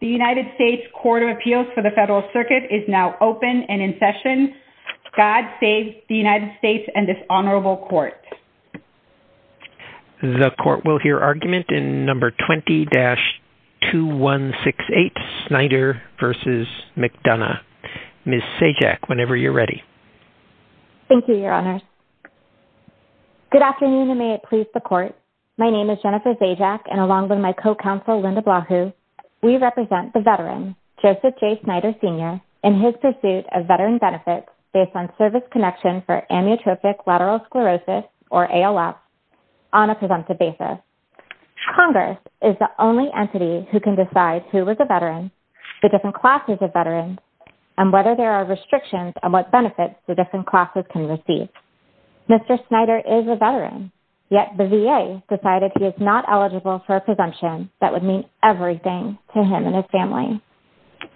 The United States Court of Appeals for the Federal Circuit is now open and in session. God save the United States and this honorable court. The court will hear argument in number 20-2168, Snyder v. McDonough. Ms. Sajak, whenever you're ready. Sajak Thank you, Your Honors. Good afternoon and may it please the court. My name is Jennifer Sajak and along with my co-counsel Linda Blahue, we represent the veteran, Joseph J. Snyder Sr. in his pursuit of veteran benefits based on service connection for amyotrophic lateral sclerosis or ALS on a presumptive basis. Congress is the only entity who can decide who is a veteran, the different classes of veterans, and whether there are restrictions on what benefits the different classes can receive. Mr. Snyder is a veteran, yet the VA decided he is not eligible for a presumption that would mean everything to him and his family.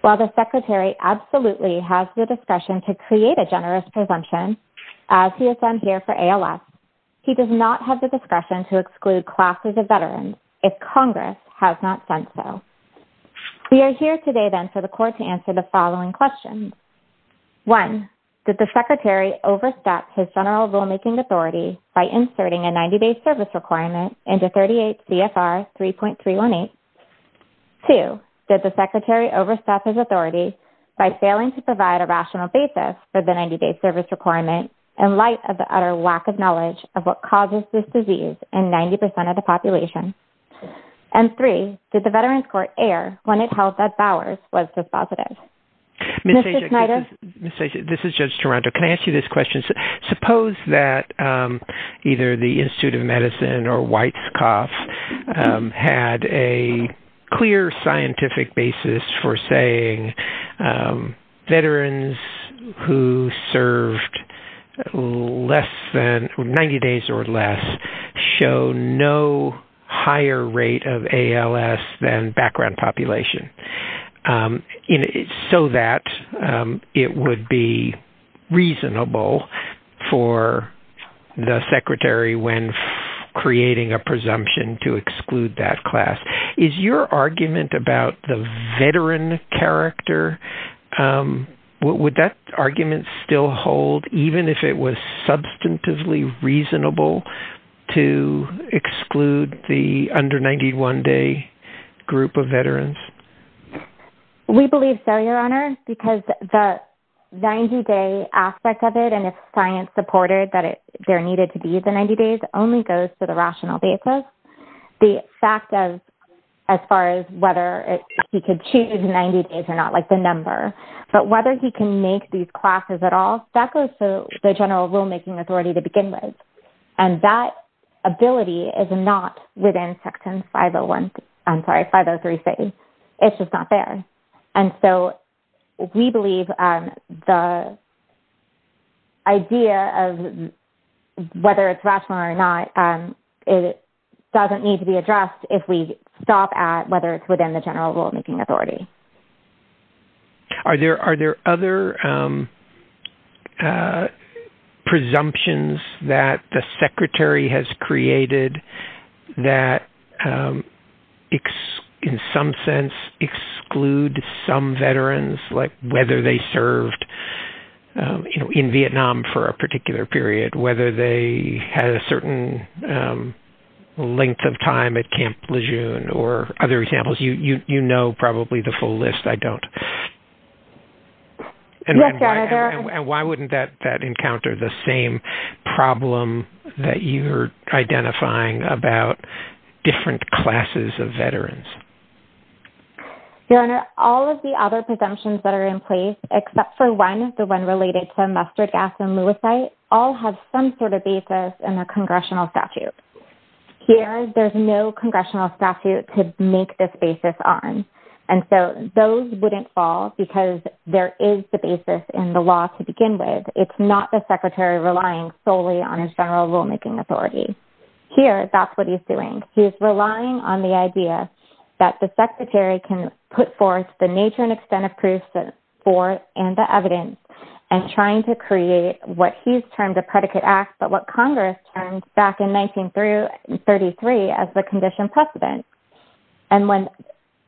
While the secretary absolutely has the discretion to create a generous presumption as he has done here for ALS, he does not have the discretion to exclude classes of veterans if Congress has not done so. We are here today then for the court to answer the following questions. One, did the secretary overstep his general rulemaking authority by inserting a 90-day service requirement into 38 CFR 3.318? Two, did the secretary overstep his authority by failing to provide a rational basis for the 90-day service requirement in light of the utter lack of knowledge of what causes this disease in 90% of the population? And three, did the Veterans Court err when it held that Bowers was dispositive? Mr. Snyder? This is Judge Toronto. Can I ask you this question? Suppose that either the Institute of Medicine or Weitzkopf had a clear scientific basis for saying veterans who served less than 90 days or less show no higher rate of ALS than background population. So that it would be reasonable for the secretary when creating a presumption to exclude that class. Is your argument about the veteran character, would that argument still hold even if it was substantively reasonable to exclude the under 91 day group of veterans? We believe so, Your Honor. Because the 90-day aspect of it, and if science supported that there needed to be the 90 days, only goes to the rational basis. The fact of as far as whether he could choose 90 days or not, like the number. But whether he can make these classes at all, that goes to the general rulemaking authority to begin with. And that ability is not within Section 503C. It's just not there. And so we believe the idea of whether it's rational or not, it doesn't need to be addressed if we stop at whether it's within the general rulemaking authority. Are there other presumptions that the secretary has created that in some sense exclude some veterans, like whether they served in Vietnam for a particular period, whether they had a certain length of time at Camp Lejeune or other examples? You know probably the full list. I don't. Yes, Your Honor. And why wouldn't that encounter the same problem that you're identifying about different classes of veterans? Your Honor, all of the other presumptions that are in place, except for one, the one related to mustard gas and lewisite, all have some sort of basis in the congressional statute. Here, there's no congressional statute to make this basis on. And so those wouldn't fall because there is the basis in the law to begin with. It's not the secretary relying solely on his general rulemaking authority. Here, that's what he's doing. He's relying on the idea that the secretary can put forth the nature and extent of proof for and the evidence and trying to create what he's termed a predicate act but what Congress termed back in 1933 as the condition precedent. And when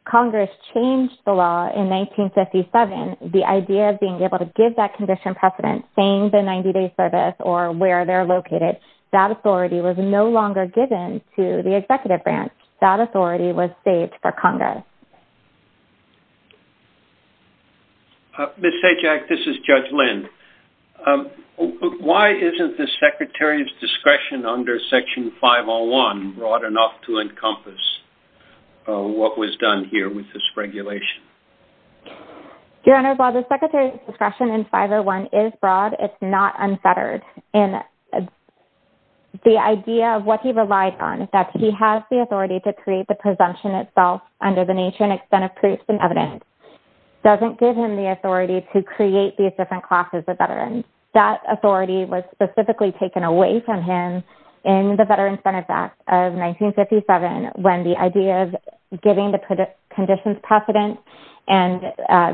Congress changed the law in 1957, the idea of being able to give that condition precedent, saying the 90-day service or where they're located, that authority was no longer given to the executive branch. That authority was saved for Congress. Ms. Sajak, this is Judge Lind. Why isn't the secretary's discretion under Section 501 broad enough to encompass what was done here with this regulation? Your Honor, while the secretary's discretion in 501 is broad, it's not unfettered. The idea of what he relied on, that he has the authority to create the presumption itself under the nature and extent of proof and evidence, doesn't give him the authority to create these different classes of veterans. That authority was specifically taken away from him in the Veterans Benefits Act of 1957 when the idea of giving the conditions precedent and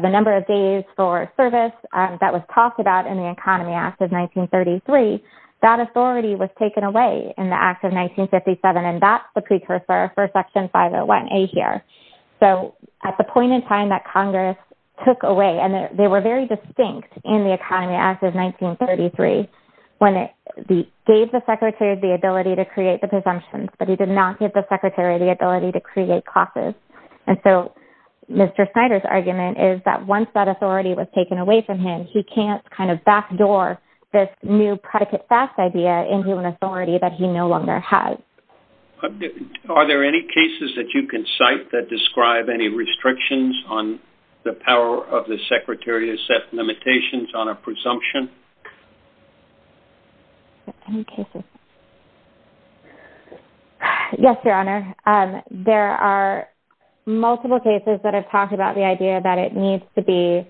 the number of days for service that was talked about in the Economy Act of 1933, that authority was taken away in the Act of 1957. And that's the precursor for Section 501A here. So at the point in time that Congress took away, and they were very distinct in the Economy Act of 1933, when it gave the secretary the ability to create the presumptions, but he did not give the secretary the ability to create classes. And so Mr. Snyder's argument is that once that authority was taken away from him, he can't kind of backdoor this new predicate theft idea into an authority that he no longer has. Are there any cases that you can cite that describe any restrictions on the power of the secretary to set limitations on a presumption? Any cases? Yes, Your Honor. There are multiple cases that have talked about the idea that it needs to be...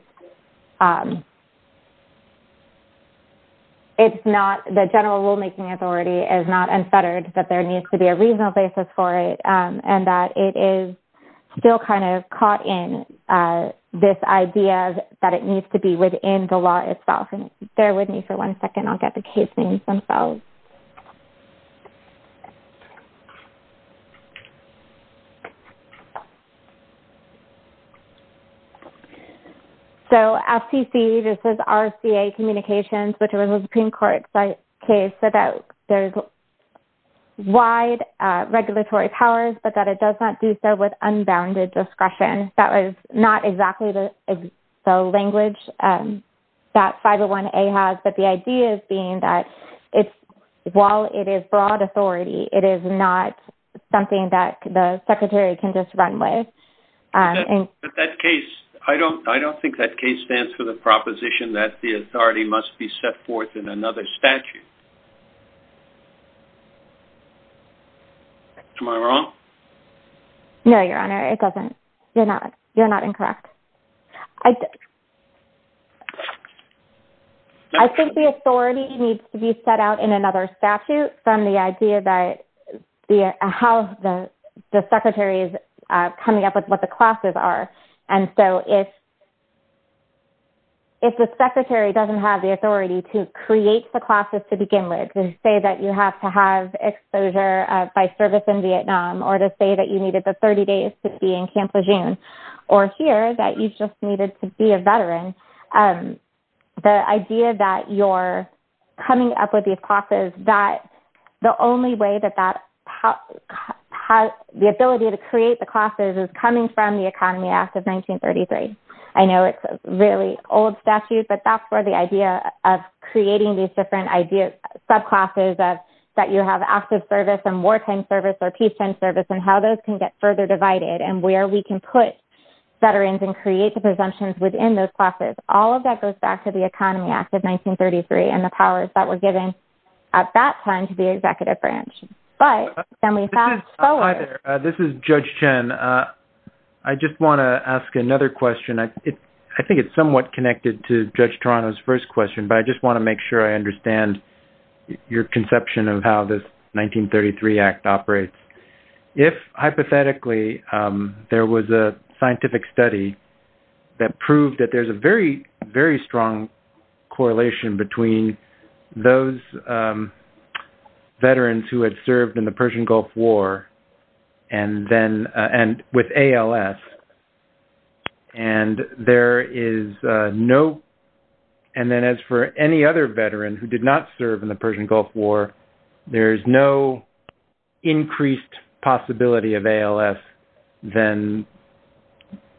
...the general rulemaking authority is not unfettered, that there needs to be a reasonable basis for it, and that it is still kind of caught in this idea that it needs to be within the law itself. And bear with me for one second. I'll get the case names themselves. So FTC, this is RCA Communications, which was a Supreme Court case, said that there's wide regulatory powers, but that it does not do so with unbounded discretion. That was not exactly the language that 501A has, but the idea being that while it is broad authority, it is not something that the secretary can just run with. But that case, I don't think that case stands for the proposition that the authority must be set forth in another statute. Am I wrong? No, Your Honor, it doesn't. You're not incorrect. I think the authority needs to be set out in another statute from the idea that how the secretary is coming up with what the classes are. And so if the secretary doesn't have the authority to create the classes to begin with and say that you have to have exposure by service in Vietnam or to say that you needed the 30 days to be in Camp Lejeune or here that you just needed to be a veteran, the idea that you're coming up with these classes that the only way that that has the ability to create the classes is coming from the Economy Act of 1933. I know it's a really old statute, but that's where the idea of creating these different ideas, subclasses of that you have active service and wartime service or peacetime service and how those can get further divided and where we can put veterans and create the presumptions within those classes. All of that goes back to the Economy Act of 1933 and the powers that were given at that time to the executive branch. This is Judge Chen. I just want to ask another question. I think it's somewhat connected to Judge Toronto's first question, but I just want to make sure I understand your conception of how this 1933 Act operates. If, hypothetically, there was a scientific study that proved that there's a very, very strong correlation between those veterans who had served in the Persian Gulf War and with ALS, and then as for any other veteran who did not serve in the Persian Gulf War, there's no increased possibility of ALS than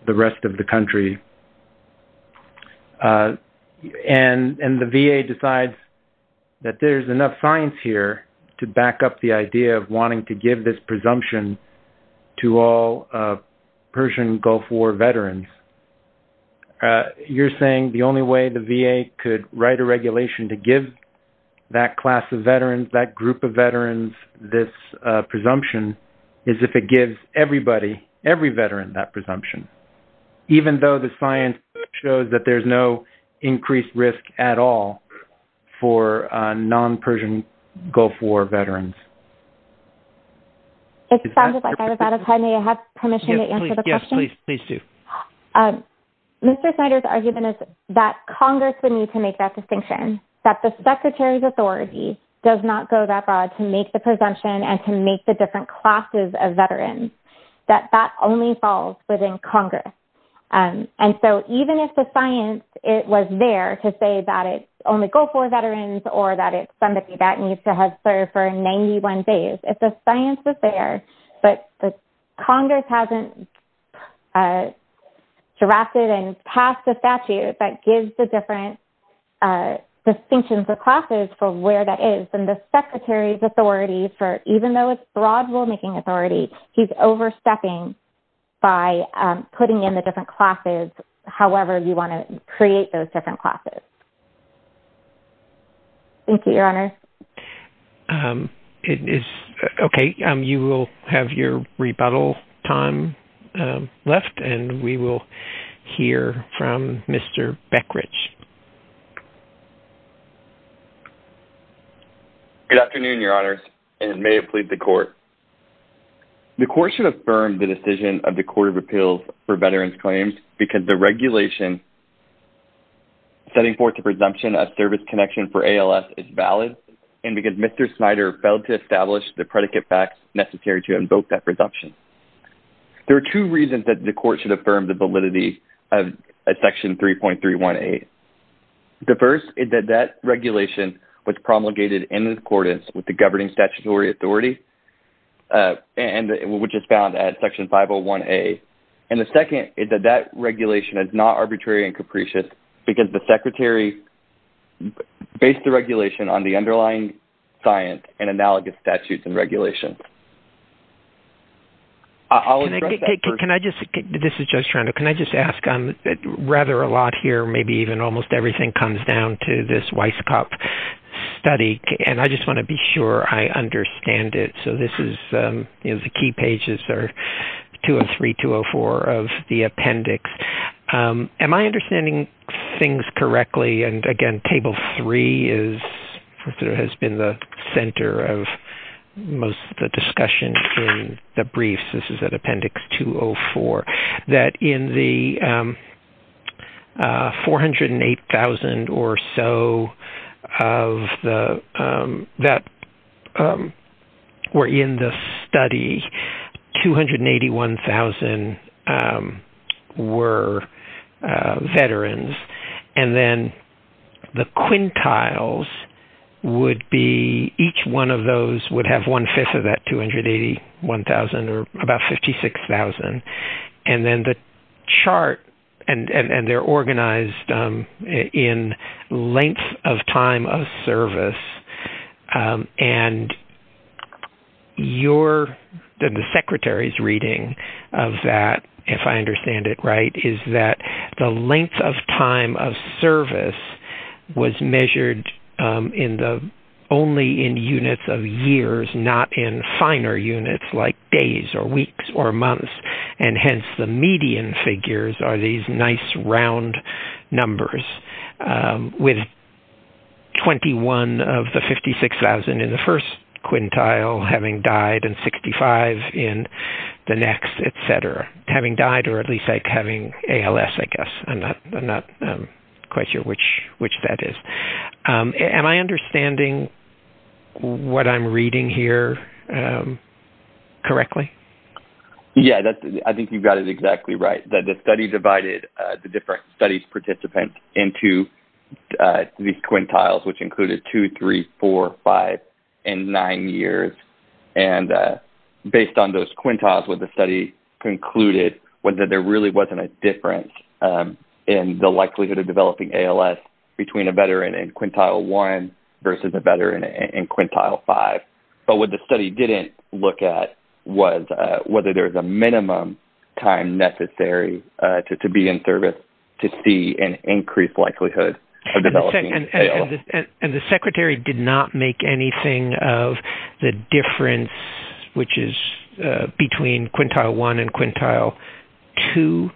the rest of the country, and the VA decides that there's enough science here to back up the idea of wanting to give this presumption to all Persian Gulf War veterans. You're saying the only way the VA could write a regulation to give that class of veterans, that group of veterans, this presumption is if it gives every veteran that presumption, even though the science shows that there's no increased risk at all for non-Persian Gulf War veterans? It sounds like I'm out of time. May I have permission to answer the question? Yes, please do. Mr. Snyder's argument is that Congress would need to make that distinction, that the Secretary's authority does not go that far to make the presumption and to make the different classes of veterans, that that only falls within Congress, and so even if the science was there to say that it's only Gulf War veterans or that it's somebody that needs to have served for 91 days, if the science was there, but Congress hasn't drafted and passed a statute that gives the different distinctions of classes for where that is, then the Secretary's authority, even though it's broad rulemaking authority, he's overstepping by putting in the different classes, however you want to create those different classes. Thank you, Your Honor. Okay, you will have your rebuttal time left, and we will hear from Mr. Beckridge. Good afternoon, Your Honors, and may it please the Court. The Court should affirm the decision of the Court of Appeals for veterans' claims because the regulation setting forth the presumption of service connection for ALS is valid, and because Mr. Snyder failed to establish the predicate facts necessary to invoke that presumption. There are two reasons that the Court should affirm the validity of Section 3.318. The first is that that regulation was promulgated in accordance with the governing statutory authority, which is found at Section 501A. And the second is that that regulation is not arbitrary and capricious because the Secretary based the regulation on the underlying science and analogous statutes and regulations. I'll address that first. Can I just, this is Judge Toronto, can I just ask, rather a lot here, maybe even almost everything comes down to this Weisskopf study, and I just want to be sure I understand it. So this is, you know, the key pages are 203, 204 of the appendix. Am I understanding things correctly? And again, Table 3 is, has been the center of most of the discussion in the briefs. This is at Appendix 204, that in the 408,000 or so of the, that were in the study, 281,000 were veterans. And then the quintiles would be, each one of those would have one-fifth of that 281,000 or about 56,000. And then the chart, and they're organized in length of time of service. And your, the Secretary's reading of that, if I understand it right, is that the length of time of service was measured in the, only in units of years, not in finer units like days or weeks or months. And hence the median figures are these nice round numbers with 21 of the 56,000 in the first quintile having died and 65 in the next, etc. Having died or at least like having ALS, I guess. I'm not quite sure which that is. Am I understanding what I'm reading here correctly? Yeah, I think you've got it exactly right. The study divided the different studies participants into these quintiles, which included two, three, four, five, and nine years. And based on those quintiles, what the study concluded was that there really wasn't a difference in the likelihood of developing ALS between a veteran in quintile one versus a veteran in quintile five. But what the study didn't look at was whether there was a minimum time necessary to be in service to see an increased likelihood of developing ALS. And the Secretary did not make anything of the difference, which is between quintile one and quintile two,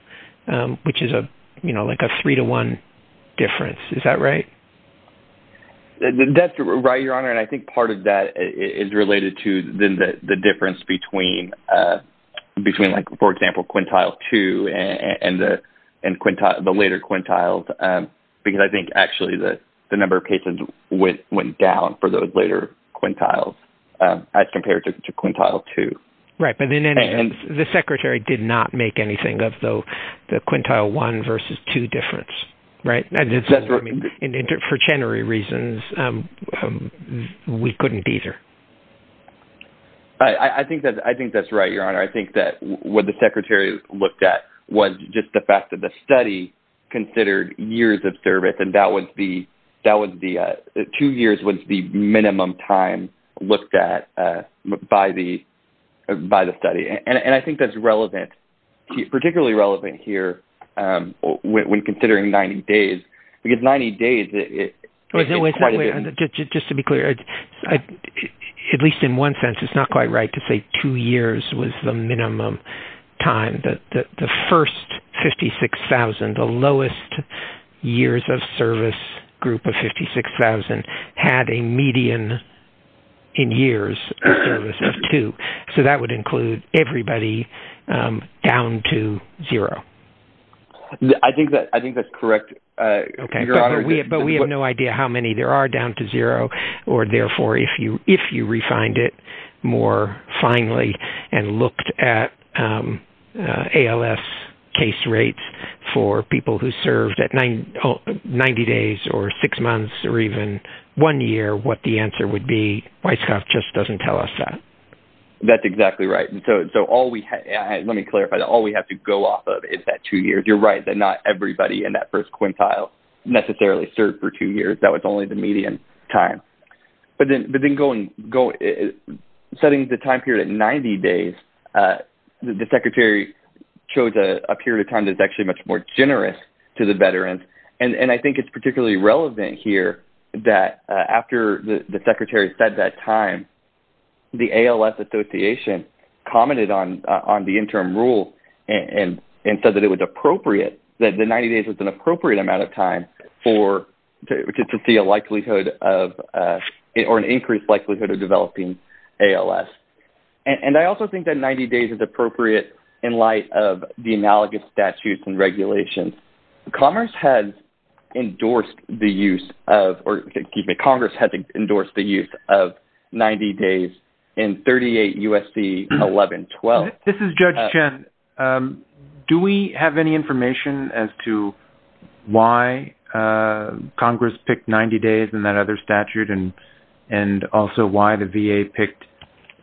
which is a, you know, like a three to one difference. Is that right? That's right, Your Honor. And I think part of that is related to the difference between like, for example, quintile two and the later quintiles. Because I think actually the number of patients went down for those later quintiles as compared to quintile two. Right. But in any event, the Secretary did not make anything of the quintile one versus two difference. Right. For chenary reasons, we couldn't either. I think that's right, Your Honor. I think that what the Secretary looked at was just the fact that the study considered years of service. And that was the two years was the minimum time looked at by the study. And I think that's relevant, particularly relevant here when considering 90 days. Because 90 days is quite a bit. Just to be clear, at least in one sense, it's not quite right to say two years was the minimum time. The first 56,000, the lowest years of service group of 56,000, had a median in years of service of two. So that would include everybody down to zero. I think that's correct, Your Honor. But we have no idea how many there are down to zero or, therefore, if you refined it more finely and looked at ALS case rates for people who served at 90 days or six months or even one year, what the answer would be, Weisskopf just doesn't tell us that. That's exactly right. Let me clarify. All we have to go off of is that two years. You're right that not everybody in that first quintile necessarily served for two years. That was only the median time. But then setting the time period at 90 days, the Secretary chose a period of time that's actually much more generous to the veterans. And I think it's particularly relevant here that after the Secretary said that time, the ALS Association commented on the interim rule and said that it was appropriate, that the 90 days was an appropriate amount of time to see a likelihood or an increased likelihood of developing ALS. And I also think that 90 days is appropriate in light of the analogous statutes and regulations. Congress has endorsed the use of 90 days in 38 U.S.C. 1112. This is Judge Chen. Do we have any information as to why Congress picked 90 days in that other statute and also why the VA picked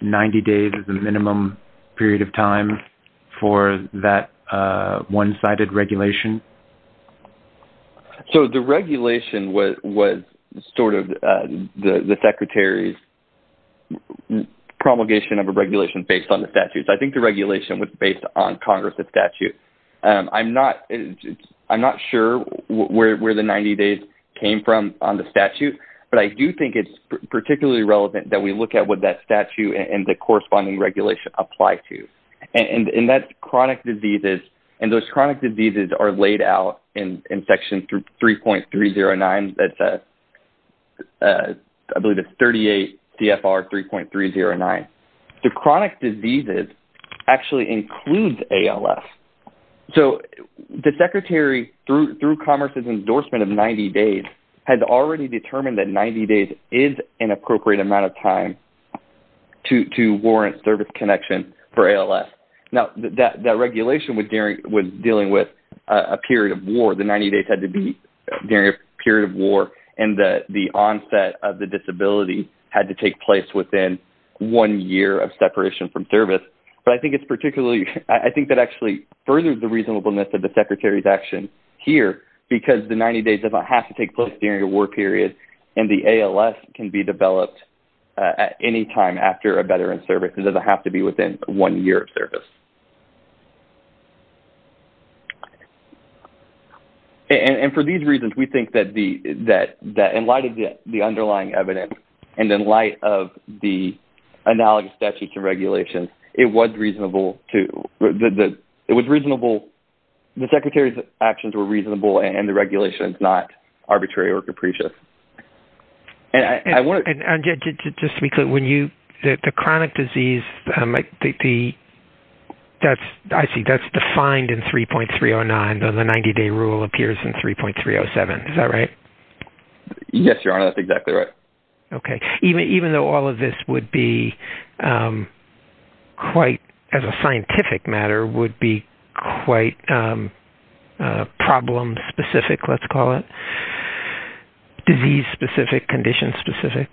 90 days as the minimum period of time for that one-sided regulation? So the regulation was sort of the Secretary's promulgation of a regulation based on the statutes. I think the regulation was based on Congress's statute. I'm not sure where the 90 days came from on the statute, but I do think it's particularly relevant that we look at what that statute and the corresponding regulation apply to. And that's chronic diseases, and those chronic diseases are laid out in Section 3.309. I believe it's 38 CFR 3.309. The chronic diseases actually include ALS. So the Secretary, through Congress's endorsement of 90 days, has already determined that 90 days is an appropriate amount of time to warrant service connection for ALS. Now, that regulation was dealing with a period of war. The 90 days had to be during a period of war, and the onset of the disability had to take place within one year of separation from service. I think that actually furthers the reasonableness of the Secretary's action here because the 90 days doesn't have to take place during a war period, and the ALS can be developed at any time after a veteran's service. It doesn't have to be within one year of service. And for these reasons, we think that in light of the underlying evidence and in light of the analogous statutes and regulations, the Secretary's actions were reasonable, and the regulation is not arbitrary or capricious. And just to be clear, the chronic disease, I see that's defined in 3.309, but the 90-day rule appears in 3.307. Is that right? Yes, Your Honor. That's exactly right. Okay. Even though all of this would be quite, as a scientific matter, would be quite problem-specific, let's call it, disease-specific, condition-specific?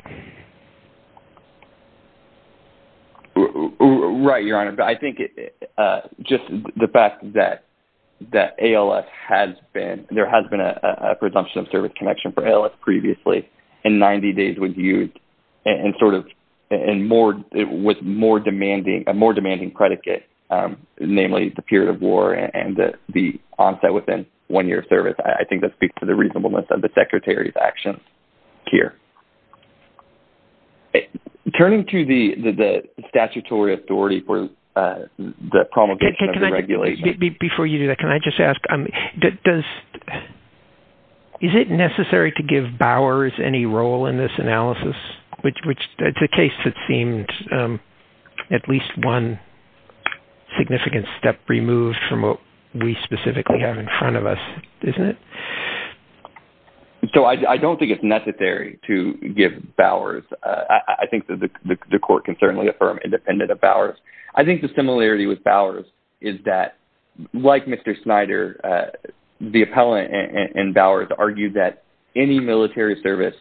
Right, Your Honor. I think just the fact that ALS has been, there has been a presumption of service connection for ALS previously, and 90 days was used, and sort of, and more, with more demanding, a more demanding predicate, namely the period of war and the onset within one year of service. I think that speaks to the reasonableness of the Secretary's actions here. Turning to the statutory authority for the promulgation of the regulation. Before you do that, can I just ask, is it necessary to give Bowers any role in this analysis? It's a case that seems at least one significant step removed from what we specifically have in front of us, isn't it? So I don't think it's necessary to give Bowers. I think that the Court can certainly affirm independent of Bowers. I think the similarity with Bowers is that, like Mr. Snyder, the appellant in Bowers argued that any military service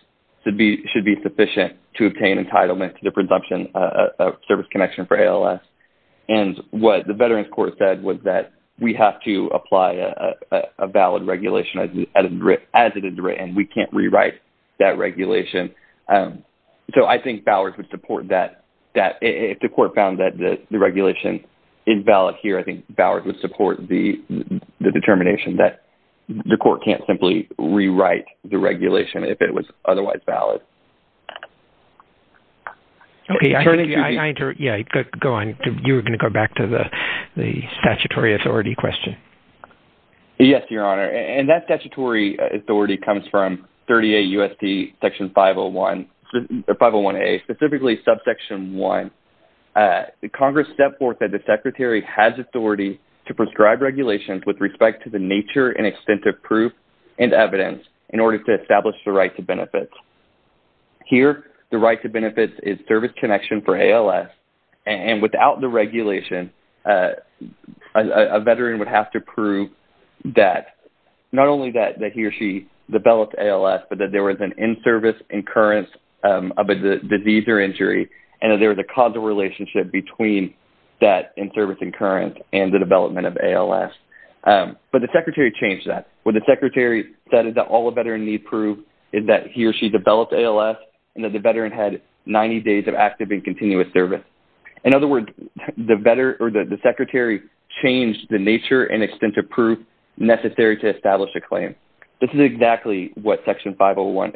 should be sufficient to obtain entitlement to the presumption of service connection for ALS. And what the Veterans Court said was that we have to apply a valid regulation as it is written. We can't rewrite that regulation. So I think Bowers would support that. If the Court found that the regulation is valid here, I think Bowers would support the determination that the Court can't simply rewrite the regulation if it was otherwise valid. Okay, go on. You were going to go back to the statutory authority question. Yes, Your Honor. And that statutory authority comes from 38 U.S.C. Section 501A, specifically Subsection 1. Congress set forth that the Secretary has authority to prescribe regulations with respect to the nature and extent of proof and evidence in order to establish the right to benefits. Here, the right to benefits is service connection for ALS, and without the regulation, a Veteran would have to prove that, not only that he or she developed ALS, but that there was an in-service occurrence of a disease or injury and that there was a causal relationship between that in-service occurrence and the development of ALS. But the Secretary changed that. What the Secretary said is that all a Veteran needs to prove is that he or she developed ALS and that the Veteran had 90 days of active and continuous service. In other words, the Secretary changed the nature and extent of proof necessary to establish a claim. This is exactly what Section 501A.1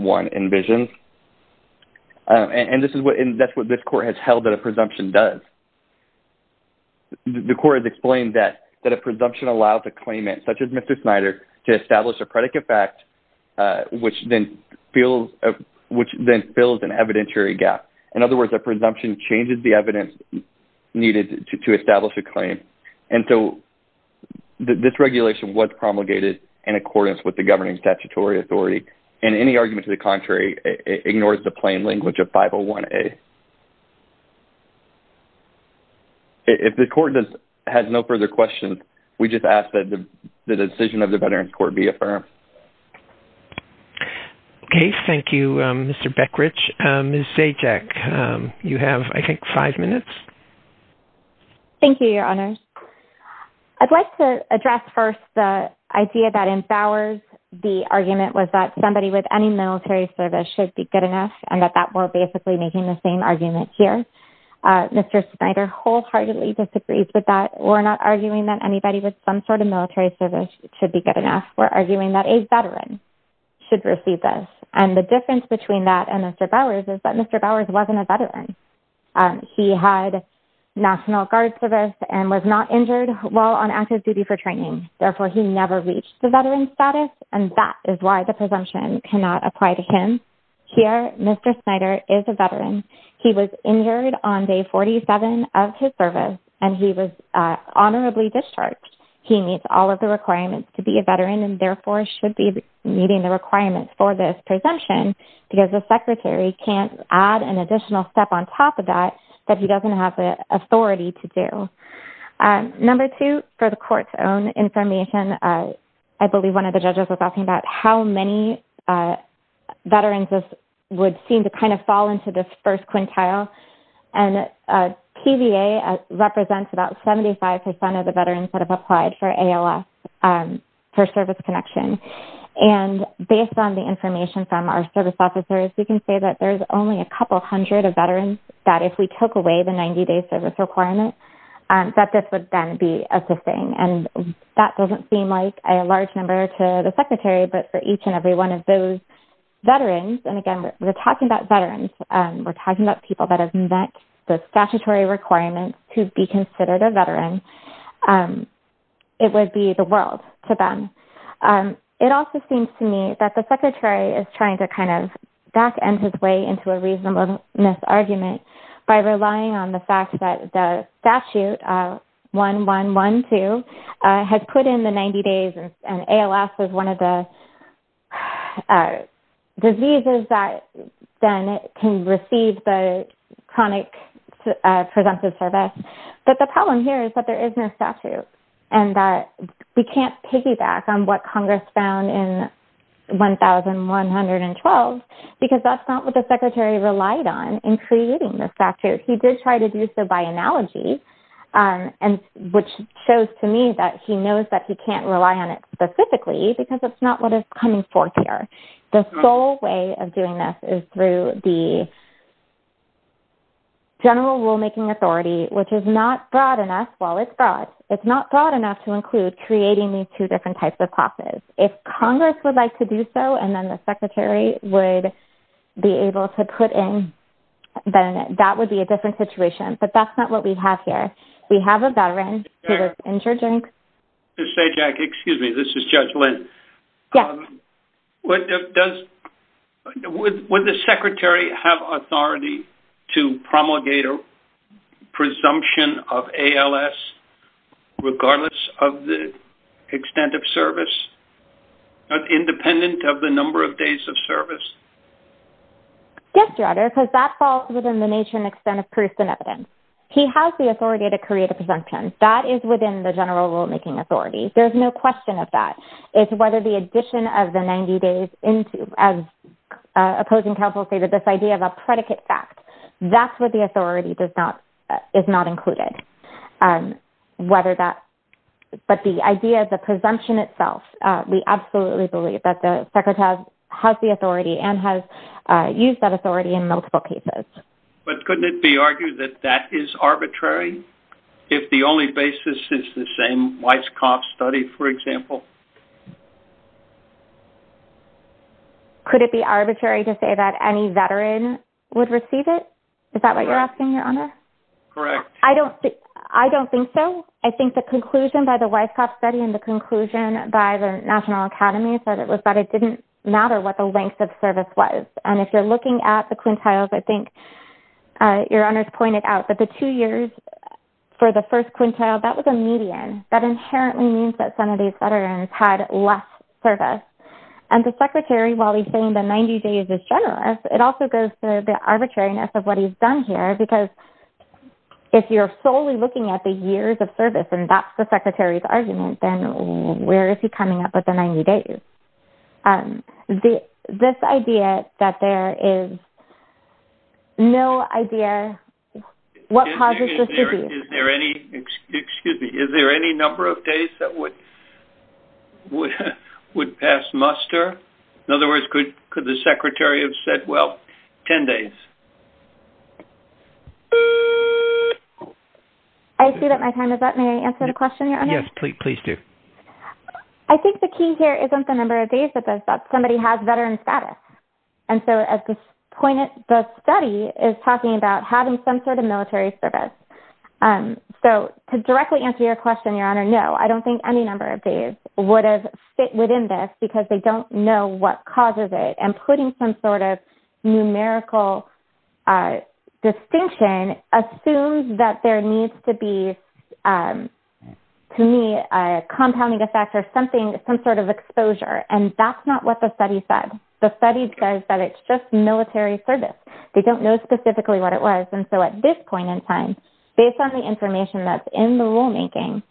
envisions, and that's what this Court has held that a presumption does. The Court has explained that a presumption allows a claimant, such as Mr. Snyder, to establish a predicate fact, which then fills an evidentiary gap. In other words, a presumption changes the evidence needed to establish a claim. And so this regulation was promulgated in accordance with the governing statutory authority, and any argument to the contrary ignores the plain language of 501A. If the Court has no further questions, we just ask that the decision of the Veterans Court be affirmed. Okay. Thank you, Mr. Beckrich. Ms. Zajac, you have, I think, five minutes. Thank you, Your Honors. I'd like to address first the idea that in Bowers, the argument was that somebody with any military service should be good enough and that we're basically making the same argument here. Mr. Snyder wholeheartedly disagrees with that. We're not arguing that anybody with some sort of military service should be good enough. We're arguing that a veteran should receive this, and the difference between that and Mr. Bowers is that Mr. Bowers wasn't a veteran. He had National Guard service and was not injured while on active duty for training. Therefore, he never reached the veteran status, and that is why the presumption cannot apply to him. Here, Mr. Snyder is a veteran. He was injured on day 47 of his service, and he was honorably discharged. He meets all of the requirements to be a veteran and therefore should be meeting the requirements for this presumption because the secretary can't add an additional step on top of that that he doesn't have the authority to do. Number two, for the court's own information, I believe one of the judges was asking about how many veterans would seem to kind of fall into this first quintile, and TVA represents about 75 percent of the veterans that have applied for ALS for service connection, and based on the information from our service officers, we can say that there's only a couple hundred of veterans that if we took away the 90-day service requirement, that this would then be assisting, and that doesn't seem like a large number to the secretary, but for each and every one of those veterans, and again we're talking about veterans, we're talking about people that have met the statutory requirements to be considered a veteran, it would be the world to them. It also seems to me that the secretary is trying to kind of back end his way into a reasonableness argument by relying on the fact that the statute, 1-1-1-2, has put in the 90 days, and ALS is one of the diseases that then can receive the chronic presumptive service, but the problem here is that there is no statute, and we can't piggyback on what Congress found in 1,112, because that's not what the secretary relied on in creating the statute. He did try to do so by analogy, which shows to me that he knows that he can't rely on it specifically, because that's not what is coming forth here. The sole way of doing this is through the general rulemaking authority, which is not broad enough. Well, it's broad. It's not broad enough to include creating these two different types of classes. If Congress would like to do so, and then the secretary would be able to put in, then that would be a different situation, but that's not what we have here. We have a veteran who was injured in. Jack, excuse me. This is Judge Lynn. Yes. Would the secretary have authority to promulgate a presumption of ALS, regardless of the extent of service, independent of the number of days of service? Yes, Your Honor. Because that falls within the nature and extent of proof and evidence. He has the authority to create a presumption. That is within the general rulemaking authority. There's no question of that. It's whether the addition of the 90 days into, as opposing counsel stated, this idea of a predicate fact, that's what the authority is not included. But the idea of the presumption itself, we absolutely believe that the secretary has the authority and has used that authority in multiple cases. But couldn't it be argued that that is arbitrary if the only basis is the same Weisskopf study, for example? Could it be arbitrary to say that any veteran would receive it? Is that what you're asking, Your Honor? Correct. I don't think so. I think the conclusion by the Weisskopf study and the conclusion by the And if you're looking at the quintiles, I think Your Honor's pointed out, that the two years for the first quintile, that was a median. That inherently means that some of these veterans had less service. And the secretary, while he's saying the 90 days is generous, it also goes to the arbitrariness of what he's done here. Because if you're solely looking at the years of service and that's the secretary's argument, then where is he coming up with the 90 days? This idea that there is no idea what causes this disease. Excuse me. Is there any number of days that would pass muster? In other words, could the secretary have said, well, 10 days? I see that my time is up. May I answer the question, Your Honor? Yes, please do. I think the key here isn't the number of days that somebody has veteran status. And so, at this point, the study is talking about having some sort of military service. So, to directly answer your question, Your Honor, no. I don't think any number of days would have fit within this because they don't know what causes it. And putting some sort of numerical distinction assumes that there needs to be, to me, a compounding effect or some sort of exposure. And that's not what the study said. The study says that it's just military service. They don't know specifically what it was. And so, at this point in time, based on the information that's in the rulemaking,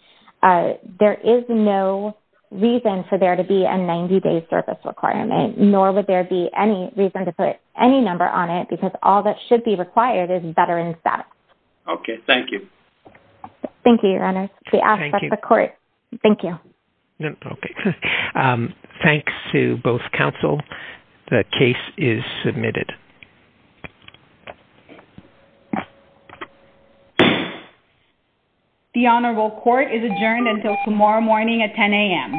there is no reason for there to be a 90-day service requirement, nor would there be any reason to put any number on it because all that should be required is veteran status. Okay. Thank you. Thank you, Your Honor. Thank you. Thank you. Thanks to both counsel. The case is submitted. The Honorable Court is adjourned until tomorrow morning at 10 a.m.